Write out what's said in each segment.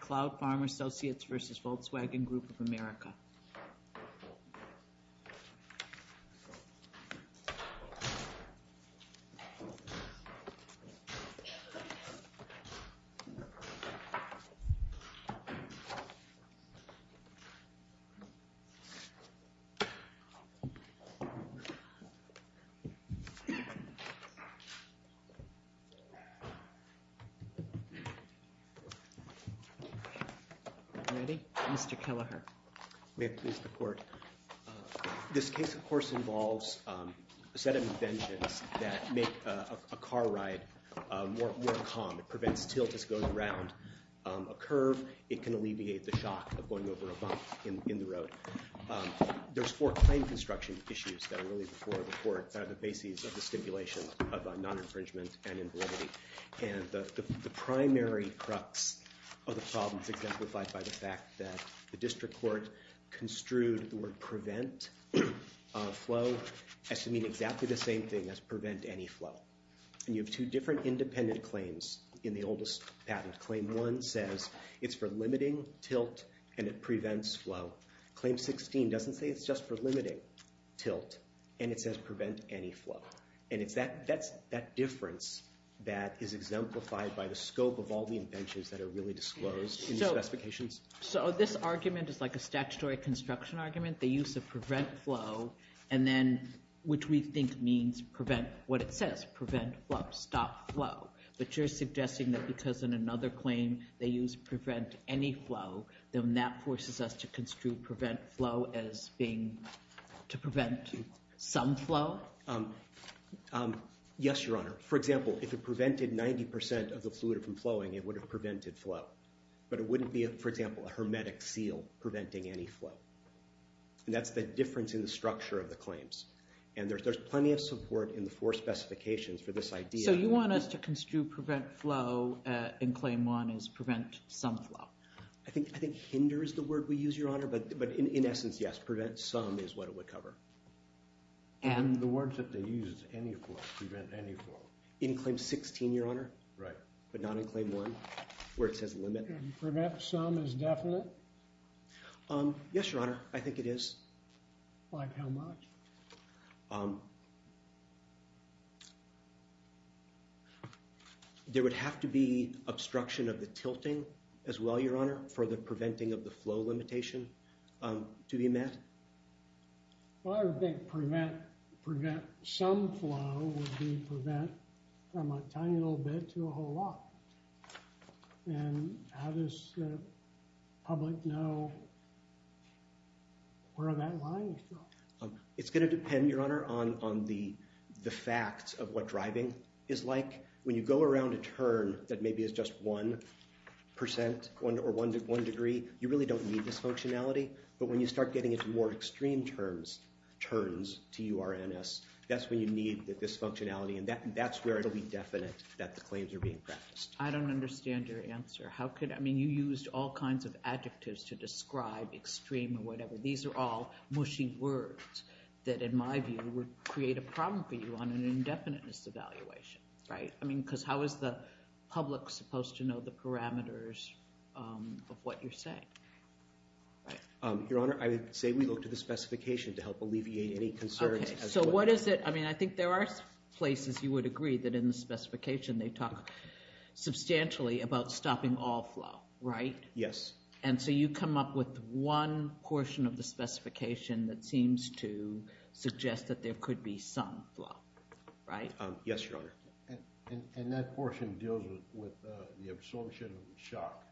Cloud Farm Associates v. Volkswagen Group of America Ready? Mr. Killeher. May it please the court. This case, of course, involves a set of inventions that make a car ride more calm. It prevents tilt as going around a curve. It can alleviate the shock of going over a bump in the road. There's four claim construction issues that are really the basis of the stipulation of non-infringement and invalidity. And the primary crux of the problem is exemplified by the fact that the district court construed the word prevent flow as to mean exactly the same thing as prevent any flow. And you have two different independent claims in the oldest patent. Claim 1 says it's for limiting tilt, and it prevents flow. Claim 16 doesn't say it's just for limiting tilt, and it says prevent any flow. And it's that difference that is exemplified by the scope of all the inventions that are really disclosed in the specifications. So this argument is like a statutory construction argument, the use of prevent flow, and then which we think means prevent what it says, prevent flow, stop flow. But you're suggesting that because in another claim they use prevent any flow, then that forces us to construe prevent flow as being to prevent some flow? Yes, Your Honor. For example, if it prevented 90% of the fluid from flowing, it would have prevented flow. But it wouldn't be, for example, a hermetic seal preventing any flow. And that's the difference in the structure of the claims. And there's plenty of support in the four specifications for this idea. So you want us to construe prevent flow in claim 1 as prevent some flow. I think hinder is the word we use, Your Honor. But in essence, yes, prevent some is what it would cover. And the words that they use is any flow, prevent any flow. In claim 16, Your Honor. Right. But not in claim 1, where it says limit. Prevent some is definite? Yes, Your Honor, I think it is. Like how much? There would have to be obstruction of the tilting as well, Your Honor, for the preventing of the flow limitation to be met. Well, I would think prevent some flow would be prevent from a tiny little bit to a whole lot. And how does the public know where that line is drawn? It's going to depend, Your Honor, on the facts of what driving is like. When you go around a turn that maybe is just 1% or 1 degree, you really don't need this functionality. But when you start getting into more extreme turns to URNS, that's when you need this functionality. And that's where it'll be definite that the claims are being practiced. I don't understand your answer. How could, I mean, you used all kinds of adjectives to describe extreme or whatever. These are all mushy words that, in my view, would create a problem for you on an indefiniteness evaluation, right? I mean, because how is the public supposed to know the parameters of what you're saying? Your Honor, I would say we look to the specification to help alleviate any concerns. So what is it? I mean, I think there are places you would agree that in the specification they talk substantially about stopping all flow, right? Yes. And so you come up with one portion of the specification that seems to suggest that there could be some flow, right? Yes, Your Honor. And that portion deals with the absorption of the shock.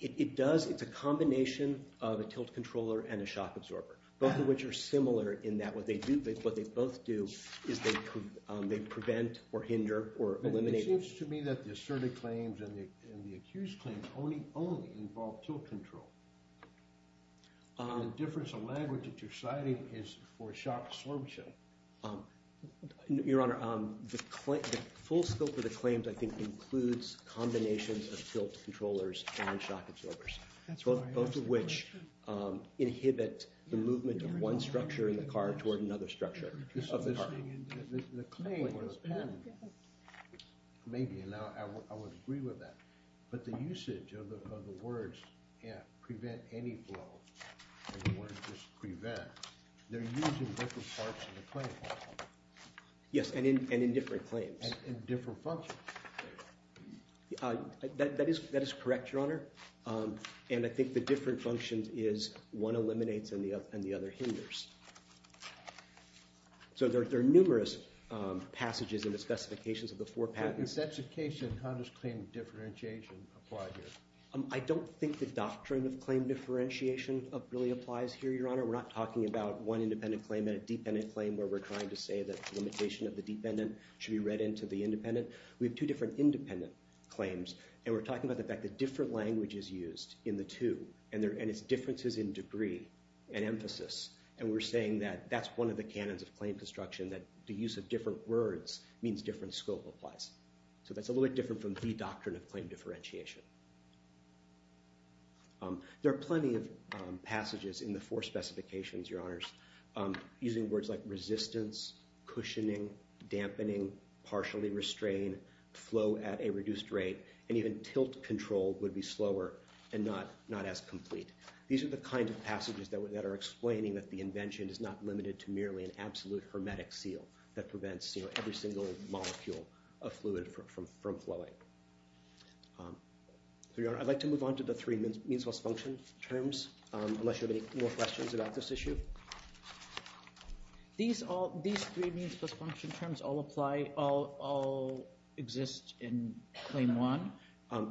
It does. It's a combination of a tilt controller and a shock absorber, both of which are similar in that what they do, what they both do is they prevent or hinder or eliminate. But it seems to me that the asserted claims and the accused claims only involve tilt control. And the difference of language that you're citing is for shock absorption. Your Honor, the full scope of the claims, I think, includes combinations of tilt controllers and shock absorbers, both of which inhibit the movement of one structure in the car toward another structure of the car. The claim was in, maybe, and I would agree with that. But the usage of the words prevent any flow, and the words just prevent, they're used in different parts of the claim. Yes, and in different claims. And in different functions. That is correct, Your Honor. And I think the different functions is one eliminates and the other hinders. So there are numerous passages in the specifications of the four patents. In the specifications, how does claim differentiation apply here? I don't think the doctrine of claim differentiation really applies here, Your Honor. We're not talking about one independent claim and a dependent claim where we're trying to say that the limitation of the dependent should be read into the independent. We have two different independent claims, and we're talking about the fact that different language is used in the two, and its differences in degree and emphasis. And we're saying that that's one of the canons of claim construction, that the use of different words means different scope applies. So that's a little bit different from the doctrine of claim differentiation. There are plenty of passages in the four specifications, Your Honors, using words like resistance, cushioning, dampening, partially restrain, flow at a reduced rate, and even tilt control would be slower and not as complete. These are the kinds of passages that are explaining that the invention is not limited to merely an absolute hermetic seal that prevents every single molecule of fluid from flowing. So, Your Honor, I'd like to move on to the three means plus function terms, unless you have any more questions about this issue. These three means plus function terms all exist in claim one?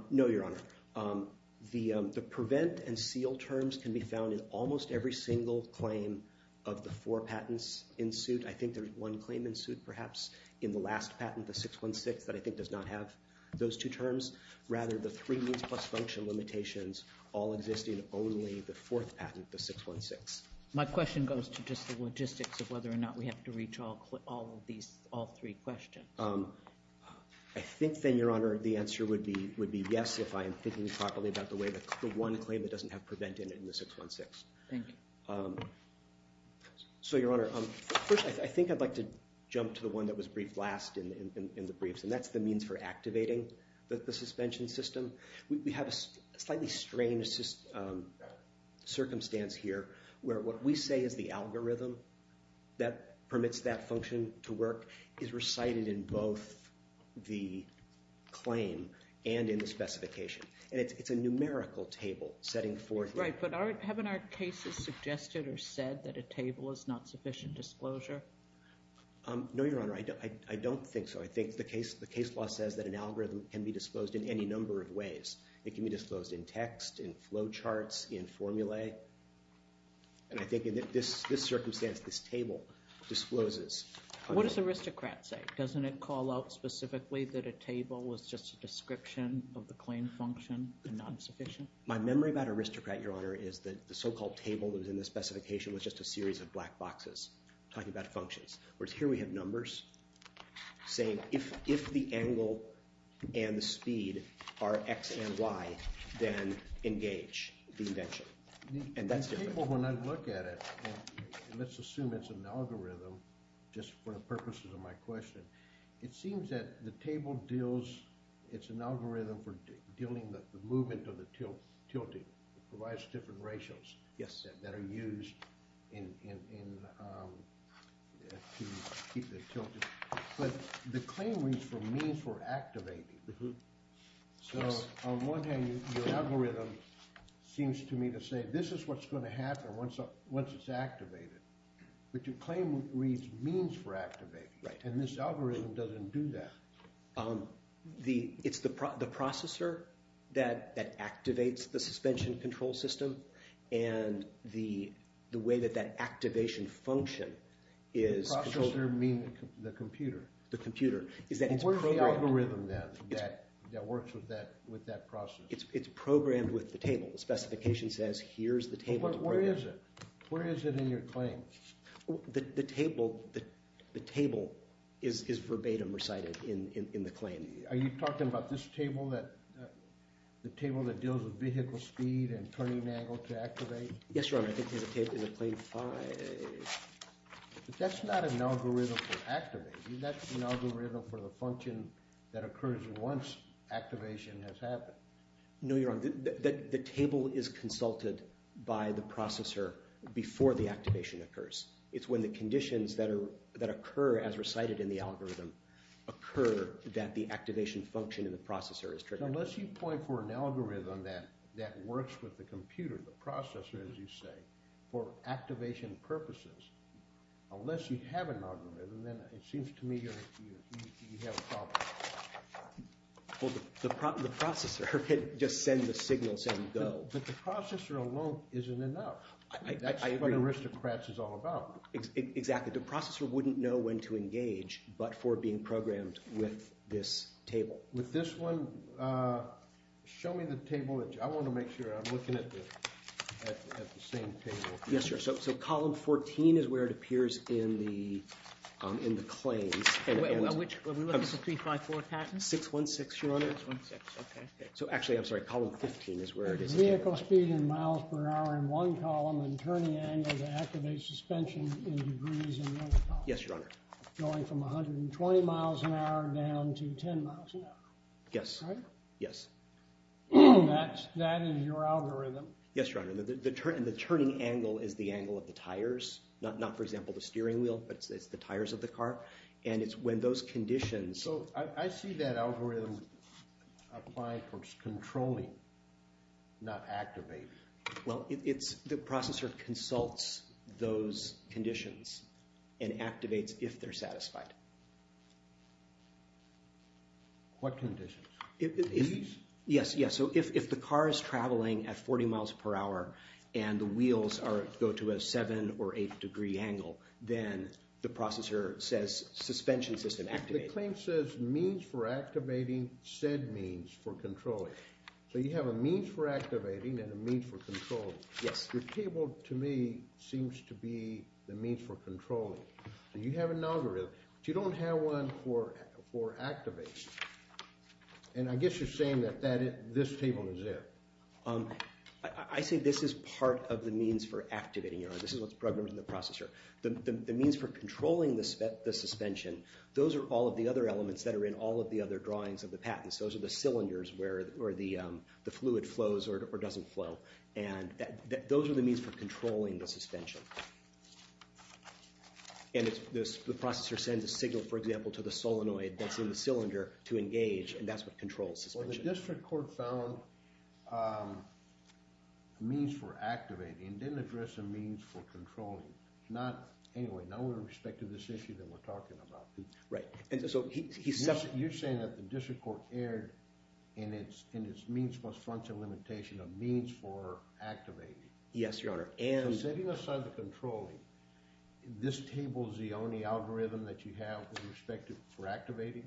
No, Your Honor. The prevent and seal terms can be found in almost every single claim of the four patents in suit. I think there's one claim in suit, perhaps, in the last patent, the 616, that I think does not have those two terms. Rather, the three means plus function limitations all exist in only the fourth patent, the 616. My question goes to just the logistics of whether or not we have to reach all three questions. I think, then, Your Honor, the answer would be yes, if I am thinking properly about the one claim that doesn't have prevent in it in the 616. Thank you. So, Your Honor, first, I think I'd like to jump to the one that was briefed last in the briefs, and that's the means for activating the suspension system. We have a slightly strange circumstance here, where what we say is the algorithm that permits that function to work is recited in both the claim and in the specification. And it's a numerical table setting forth. Right, but haven't our cases suggested or said that a table is not sufficient disclosure? No, Your Honor, I don't think so. I think the case law says that an algorithm can be disclosed in any number of ways. It can be disclosed in text, in flow charts, in formulae. And I think in this circumstance, this table discloses. What does aristocrat say? Doesn't it call out specifically that a table was just a description of the claim function and not sufficient? My memory about aristocrat, Your Honor, is that the so-called table that was in the specification was just a series of black boxes talking about functions. Whereas here we have numbers saying if the angle and the speed are x and y, then engage the invention. And that's different. The table, when I look at it, let's assume it's an algorithm, just for the purposes of my question. It seems that the table deals, it's an algorithm for dealing with the movement of the tilting. It provides different ratios that are used to keep the tilting. But the claim reads for means for activating. So on one hand, your algorithm seems to me to say, this is what's going to happen once it's activated. But your claim reads means for activating. And this algorithm doesn't do that. It's the processor that activates the suspension control system. And the way that that activation function is The processor means the computer. The computer. Where's the algorithm then that works with that process? It's programmed with the table. The specification says, here's the table to program. But where is it? Where is it in your claim? The table is verbatim recited in the claim. Are you talking about this table, that the table that deals with vehicle speed and turning angle to activate? Yes, Your Honor. I think there's a table in the claim 5. That's not an algorithm for activating. That's an algorithm for the function that occurs once activation has happened. No, Your Honor. The table is consulted by the processor before the activation occurs. It's when the conditions that occur as recited in the algorithm occur that the activation function in the processor is triggered. Unless you point for an algorithm that works with the computer, the processor, as you say, for activation purposes, unless you have an algorithm, then it seems to me you have a problem. The processor could just send the signal, say go. But the processor alone isn't enough. That's what aristocrats is all about. Exactly. The processor wouldn't know when to engage, but for being programmed with this table. With this one, show me the table. I want to make sure I'm looking at the same table. Yes, sir. So column 14 is where it appears in the claims. Which one? Is it 354 Patton? 616, Your Honor. So actually, I'm sorry, column 15 is where it is. Vehicle speed in miles per hour in one column and turning angle to activate suspension in degrees in the other column. Yes, Your Honor. Going from 120 miles an hour down to 10 miles an hour. Yes. Yes. That is your algorithm? Yes, Your Honor. The turning angle is the angle of the tires, not, for example, the steering wheel, but it's the tires of the car. And it's when those conditions. So I see that algorithm applying for controlling, not activating. Well, the processor consults those conditions and activates if they're satisfied. What conditions? Yes, yes. So if the car is traveling at 40 miles per hour and the wheels go to a 7 or 8 degree angle, then the processor says suspension system activated. The claim says means for activating said means for controlling. So you have a means for activating and a means for controlling. Yes. The table, to me, seems to be the means for controlling. So you have an algorithm, but you don't have one for activating. And I guess you're saying that this table is it. I say this is part of the means for activating, Your Honor. This is what's programmed in the processor. The means for controlling the suspension, those are all of the other elements that are in all of the other drawings of the patents. Those are the cylinders where the fluid flows or doesn't flow. And those are the means for controlling the suspension. And the processor sends a signal, for example, to the solenoid that's in the cylinder to engage, and that's what controls suspension. Well, the district court found means for activating. It didn't address the means for controlling. Not, anyway, not with respect to this issue that we're talking about. Right. And so he said. You're saying that the district court erred in its means plus function limitation means for activating. Yes, Your Honor. So setting aside the controlling, this table is the only algorithm that you have with respect to for activating?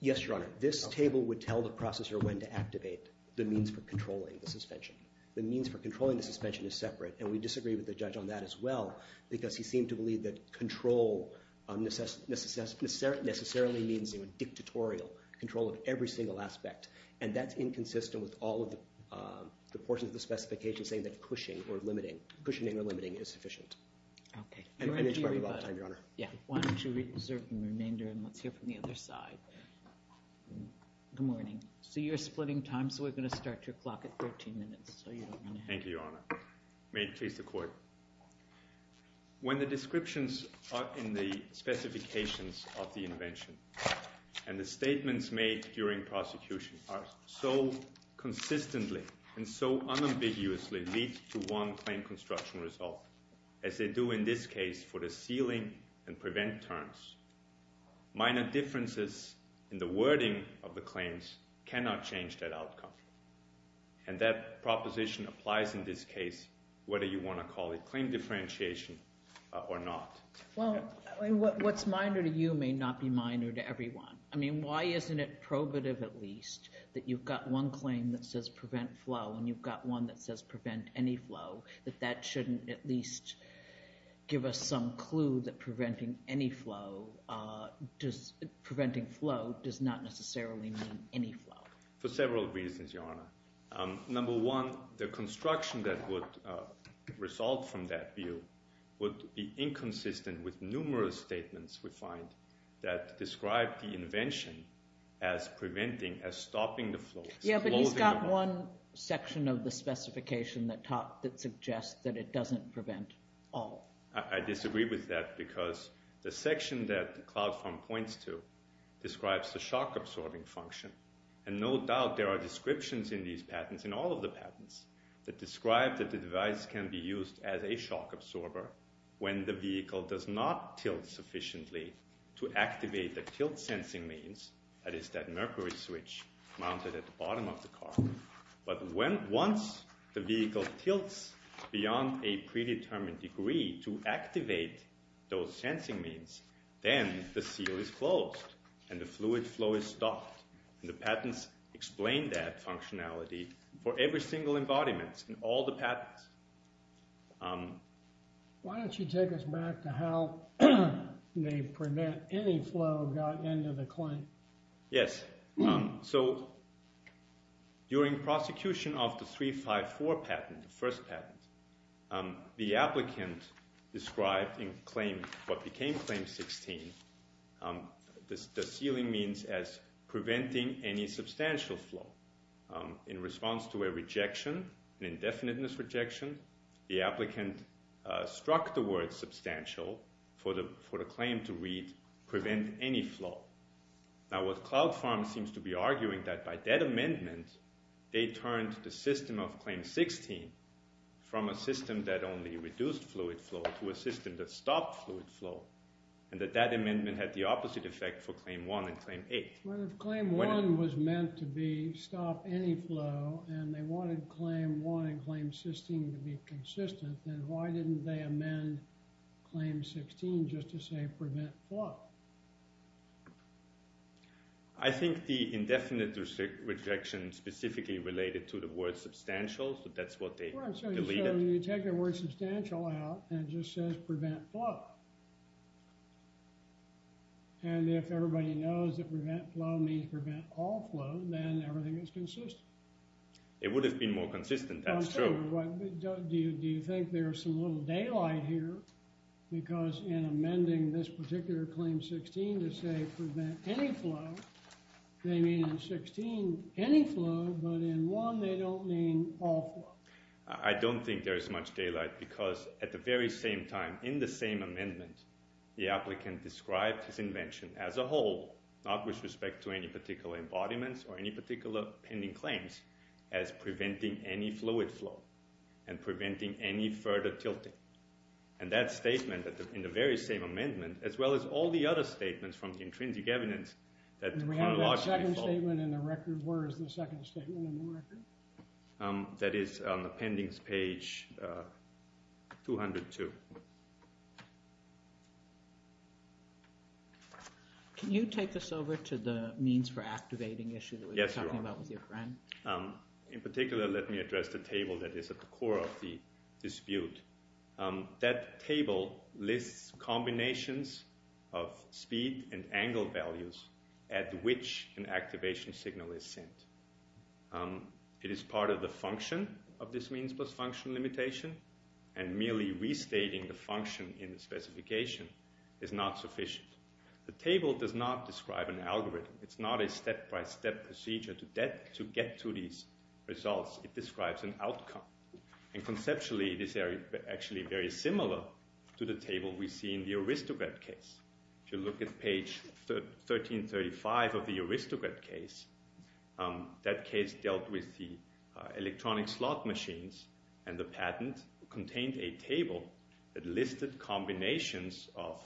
Yes, Your Honor. This table would tell the processor when to activate the means for controlling the suspension. The means for controlling the suspension is separate, and we disagree with the judge on that as well, because he seemed to believe that control necessarily means a dictatorial control of every single aspect. And that's inconsistent with all of the portions of the specification saying that cushioning or limiting is sufficient. OK. And we're out of time, Your Honor. Yeah. Why don't you reserve the remainder, and let's hear from the other side. Good morning. So you're splitting time, so we're going to start your clock at 13 minutes. Thank you, Your Honor. May it please the court. When the descriptions in the specifications of the invention and the statements made during prosecution are so consistently and so unambiguously linked to one claim construction result, as they do in this case for the sealing and prevent terms, minor differences in the wording of the claims cannot change that outcome. And that proposition applies in this case, whether you want to call it claim differentiation or not. Well, what's minor to you may not be minor to everyone. I mean, why isn't it probative, at least, that you've got one claim that says prevent flow, and you've got one that says prevent any flow, that that shouldn't at least give us some clue that preventing flow does not necessarily mean any flow? For several reasons, Your Honor. Number one, the construction that would result from that view would be inconsistent with numerous statements, we find, that describe the invention as preventing, as stopping the flow. Yeah, but he's got one section of the specification that suggests that it doesn't prevent all. I disagree with that, because the section that CloudFarm points to describes the shock-absorbing function. And no doubt, there are descriptions in these patents, in all of the patents, that describe that the device can be used as a shock absorber when the vehicle does not tilt sufficiently to activate the tilt-sensing means, that is, that mercury switch mounted at the bottom of the car. But once the vehicle tilts beyond a predetermined degree to activate those sensing means, then the seal is closed, and the fluid flow is stopped. And the patents explain that functionality for every single embodiment in all the patents. Why don't you take us back to how they prevent any flow that got into the claim? Yes. So during prosecution of the 354 patent, the first patent, the applicant described in what became Claim 16, the sealing means as preventing any substantial flow. In response to a rejection, an indefiniteness rejection, the applicant struck the word substantial for the claim to read, prevent any flow. Now, what Cloud Pharma seems to be arguing, that by that amendment, they turned the system of Claim 16 from a system that only reduced fluid flow to a system that stopped fluid flow, and that that amendment had the opposite effect for Claim 1 and Claim 8. Well, if Claim 1 was meant to be stop any flow, and they wanted Claim 1 and Claim 16 to be consistent, then why didn't they amend Claim 16 just to say prevent flow? I think the indefinite rejection specifically related to the word substantial, so that's what they deleted. Well, so you take the word substantial out, and it just says prevent flow. And if everybody knows that prevent flow means prevent all flow, then everything is consistent. It would have been more consistent, that's true. Well, sure, but do you think there's some little daylight here? Because in amending this particular Claim 16 to say prevent any flow, they mean in 16 any flow, but in 1, they don't mean all flow. I don't think there is much daylight, because at the very same time, in the same amendment, the applicant described his invention as a whole, not with respect to any particular embodiments or any particular pending claims, as preventing any fluid flow and preventing any further tilting. And that statement in the very same amendment, as well as all the other statements from the intrinsic evidence, that chronologically flow. And we have that second statement in the record. Where is the second statement in the record? That is on the pendings page 202. Can you take us over to the means for activating issue that we were talking about with your friend? In particular, let me address the table that is at the core of the dispute. That table lists combinations of speed and angle values at which an activation signal is sent. It is part of the function of this means plus function limitation. And merely restating the function in the specification is not sufficient. The table does not describe an algorithm. It's not a step-by-step procedure to get to these results. It describes an outcome. And conceptually, it is actually very similar to the table we see in the aristocrat case. If you look at page 1335 of the aristocrat case, that case dealt with the electronic slot machines and the patent contained a table that listed combinations of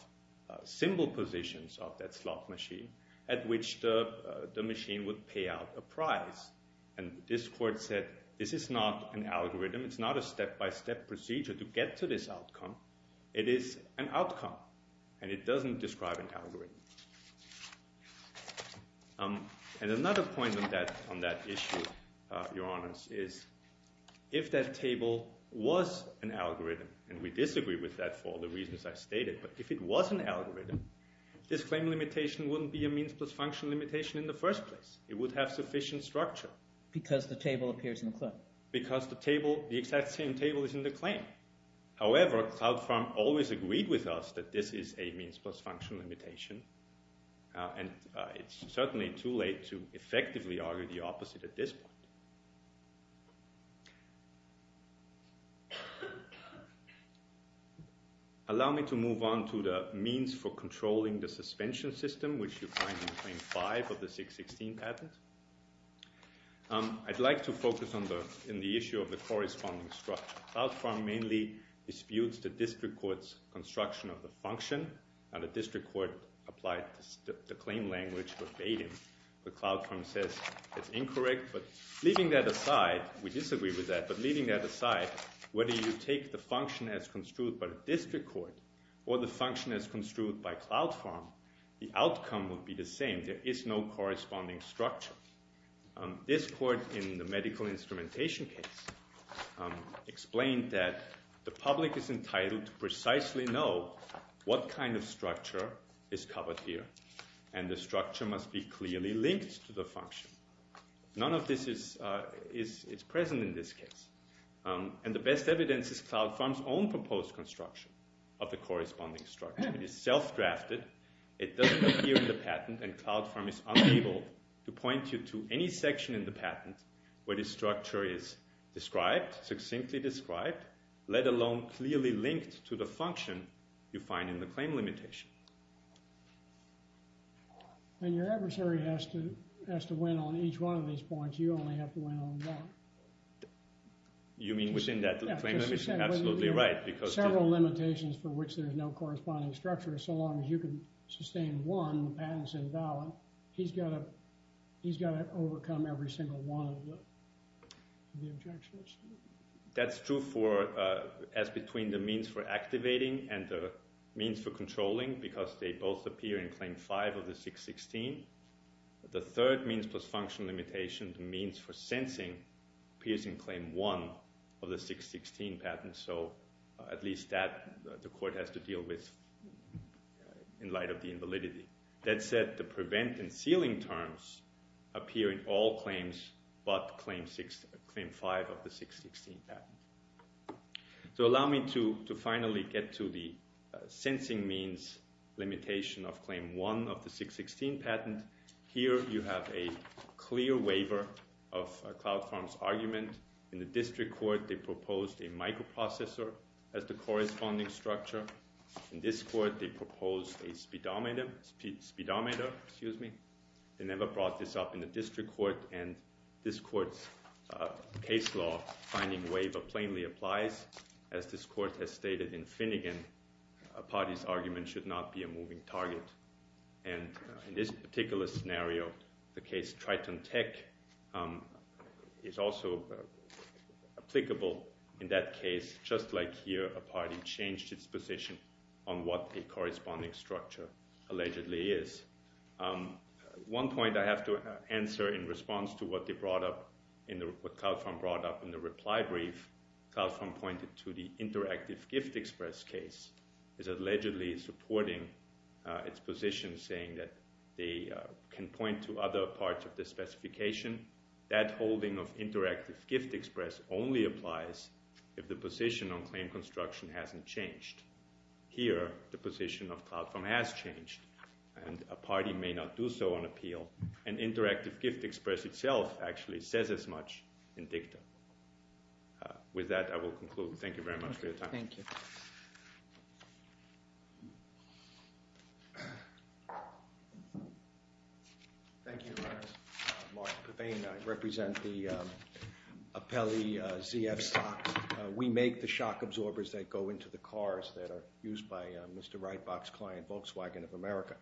symbol positions of that slot machine at which the machine would pay out a price. And this court said, this is not an algorithm. It's not a step-by-step procedure to get to this outcome. It is an outcome. And it doesn't describe an algorithm. And another point on that issue, Your Honors, is if that table was an algorithm, and we disagree with that for the reasons I stated, but if it was an algorithm, this claim limitation wouldn't be a means plus function limitation in the first place. It would have sufficient structure. Because the table appears in the claim. Because the exact same table is in the claim. However, CloudFarm always agreed with us that this is a means plus function limitation. And it's certainly too late to effectively argue the opposite at this point. Allow me to move on to the means for controlling the suspension system, which you find in Claim 5 of the 616 patent. I'd like to focus on the issue of the corresponding structure. CloudFarm mainly disputes the district court's construction of the function. Now, the district court applied the claim language verbatim. But CloudFarm says it's incorrect. But leaving that aside, we disagree with that. But leaving that aside, whether you take the function as construed by the district court or the function as construed by CloudFarm, the outcome would be the same. There is no corresponding structure. This court, in the medical instrumentation case, explained that the public is entitled to precisely know what kind of structure is covered here. And the structure must be clearly linked to the function. None of this is present in this case. And the best evidence is CloudFarm's own proposed construction of the corresponding structure. It is self-drafted. It doesn't appear in the patent. And CloudFarm is unable to point you to any section in the patent where the structure is described, succinctly described, let alone clearly linked to the function you find in the claim limitation. And your adversary has to win on each one of these points. You only have to win on one. You mean within that claim limitation? Absolutely right. Because several limitations for which there is no corresponding structure. So long as you can sustain one, the patent's invalid. He's got to overcome every single one of the objections. That's true as between the means for activating and the means for controlling, because they both appear in Claim 5 of the 616. The third means plus function limitation, the means for sensing, appears in Claim 1 of the 616 patent. So at least that, the court has to deal with in light of the invalidity. That said, the prevent and sealing terms appear in all claims but Claim 5 of the 616 patent. So allow me to finally get to the sensing means limitation of Claim 1 of the 616 patent. Here you have a clear waiver of CloudFarm's argument. In the district court, they proposed a microprocessor as the corresponding structure. In this court, they proposed a speedometer. They never brought this up in the district court. And this court's case law finding waiver plainly applies. As this court has stated in Finnegan, a party's argument should not be a moving target. And in this particular scenario, the case Triton Tech is also applicable in that case. Just like here, a party changed its position on what the corresponding structure allegedly is. One point I have to answer in response to what CloudFarm brought up in the reply brief, CloudFarm pointed to the Interactive Gift Express case as allegedly supporting its position, saying that they can point to other parts of the specification. That holding of Interactive Gift Express only applies if the position on claim construction hasn't changed. Here, the position of CloudFarm has changed. And a party may not do so on appeal. And Interactive Gift Express itself actually says as much in dicta. With that, I will conclude. Thank you very much for your time. Thank you. Thank you, Your Honor. Mark Devane, I represent the Appelli ZF stocks. We make the shock absorbers that go into the cars that are used by Mr. Rightbox Client Volkswagen of America.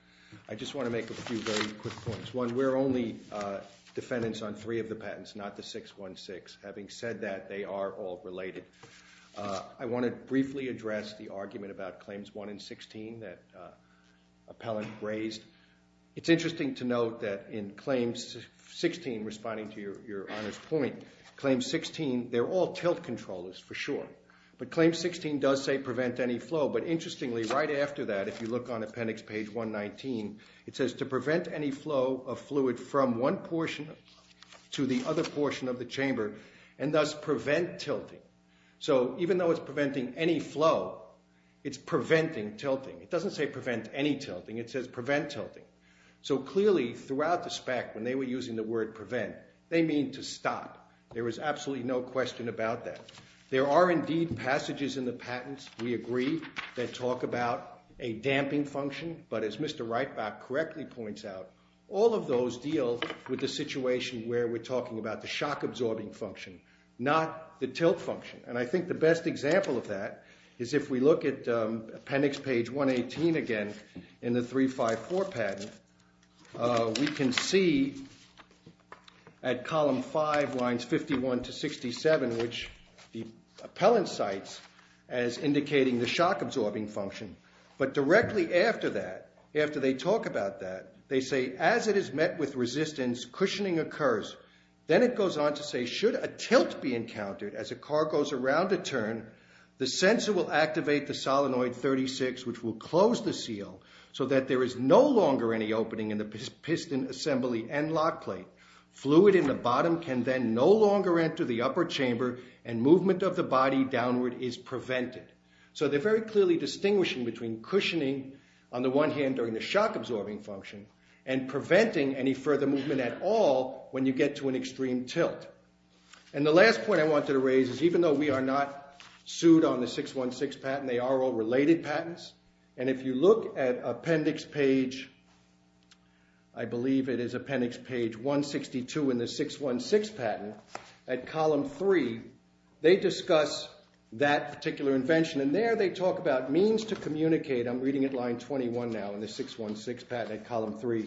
I just want to make a few very quick points. One, we're only defendants on three of the patents, not the 616. Having said that, they are all related. I want to briefly address the argument about claims 1 and 16 that Appellant raised. It's interesting to note that in claims 16, responding to Your Honor's point, claim 16, they're all tilt controllers for sure. But claim 16 does say prevent any flow. But interestingly, right after that, if you look on appendix page 119, it says to prevent any flow of fluid from one portion to the other portion of the chamber, and thus prevent tilting. So even though it's preventing any flow, it's preventing tilting. It doesn't say prevent any tilting. It says prevent tilting. So clearly, throughout the SPAC, when they were using the word prevent, they mean to stop. There was absolutely no question about that. There are indeed passages in the patents, we agree, that talk about a damping function. But as Mr. Reitbach correctly points out, all of those deal with the situation where we're talking about the shock absorbing function, not the tilt function. And I think the best example of that is if we look at appendix page 118 again in the 354 patent, we can see at column 5, lines 51 to 67, in which the appellant cites as indicating the shock absorbing function. But directly after that, after they talk about that, they say, as it is met with resistance, cushioning occurs. Then it goes on to say, should a tilt be encountered as a car goes around a turn, the sensor will activate the solenoid 36, which will close the seal so that there is no longer any opening in the piston assembly and lock plate. Fluid in the bottom can then no longer enter the upper chamber, and movement of the body downward is prevented. So they're very clearly distinguishing between cushioning, on the one hand, during the shock absorbing function, and preventing any further movement at all when you get to an extreme tilt. And the last point I wanted to raise is even though we are not sued on the 616 patent, they are all related patents. And if you look at appendix page, I believe it is appendix page 162 in the 616 patent, at column three, they discuss that particular invention. And there they talk about means to communicate. I'm reading at line 21 now in the 616 patent at column three.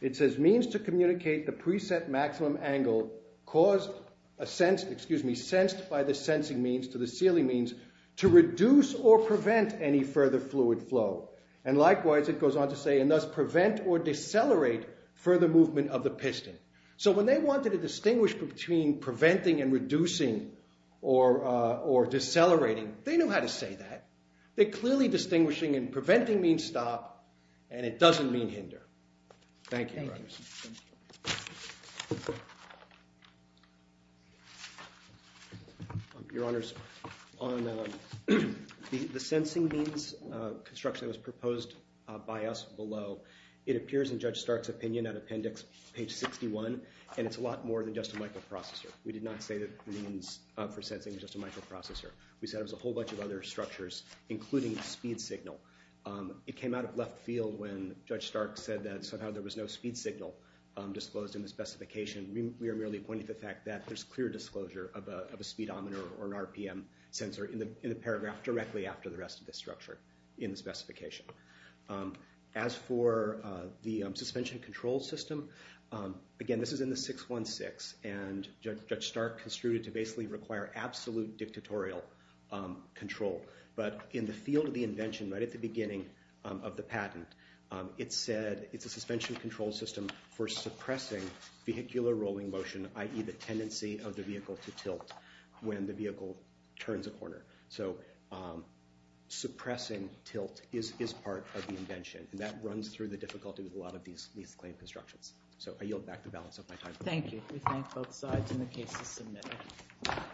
It says, means to communicate the preset maximum angle caused a sense, excuse me, sensed by the sensing means to the sealing means to reduce or prevent any further fluid flow. And likewise, it goes on to say, and thus prevent or decelerate further movement of the piston. So when they wanted to distinguish between preventing and reducing or decelerating, they knew how to say that. They're clearly distinguishing, and preventing means stop, and it doesn't mean hinder. Thank you, Your Honors. Your Honors, on the sensing means construction that was proposed by us below, it And it's a lot more than just a microprocessor. We did not say that the means for sensing was just a microprocessor. We said it was a whole bunch of other structures, including speed signal. It came out of left field when Judge Stark said that somehow there was no speed signal disclosed in the specification. We are merely pointing to the fact that there's clear disclosure of a speedometer or an RPM sensor in the paragraph directly after the rest of the structure in the specification. As for the suspension control system, again, this is in the 616, and Judge Stark construed it to basically require absolute dictatorial control. But in the field of the invention, right at the beginning of the patent, it said it's a suspension control system for suppressing vehicular rolling motion, i.e. the tendency of the vehicle to tilt when the vehicle turns a corner. and that runs through the difficulty with a lot of these leased claim constructions. So I yield back the balance of my time. Thank you. We thank both sides in the case to submit.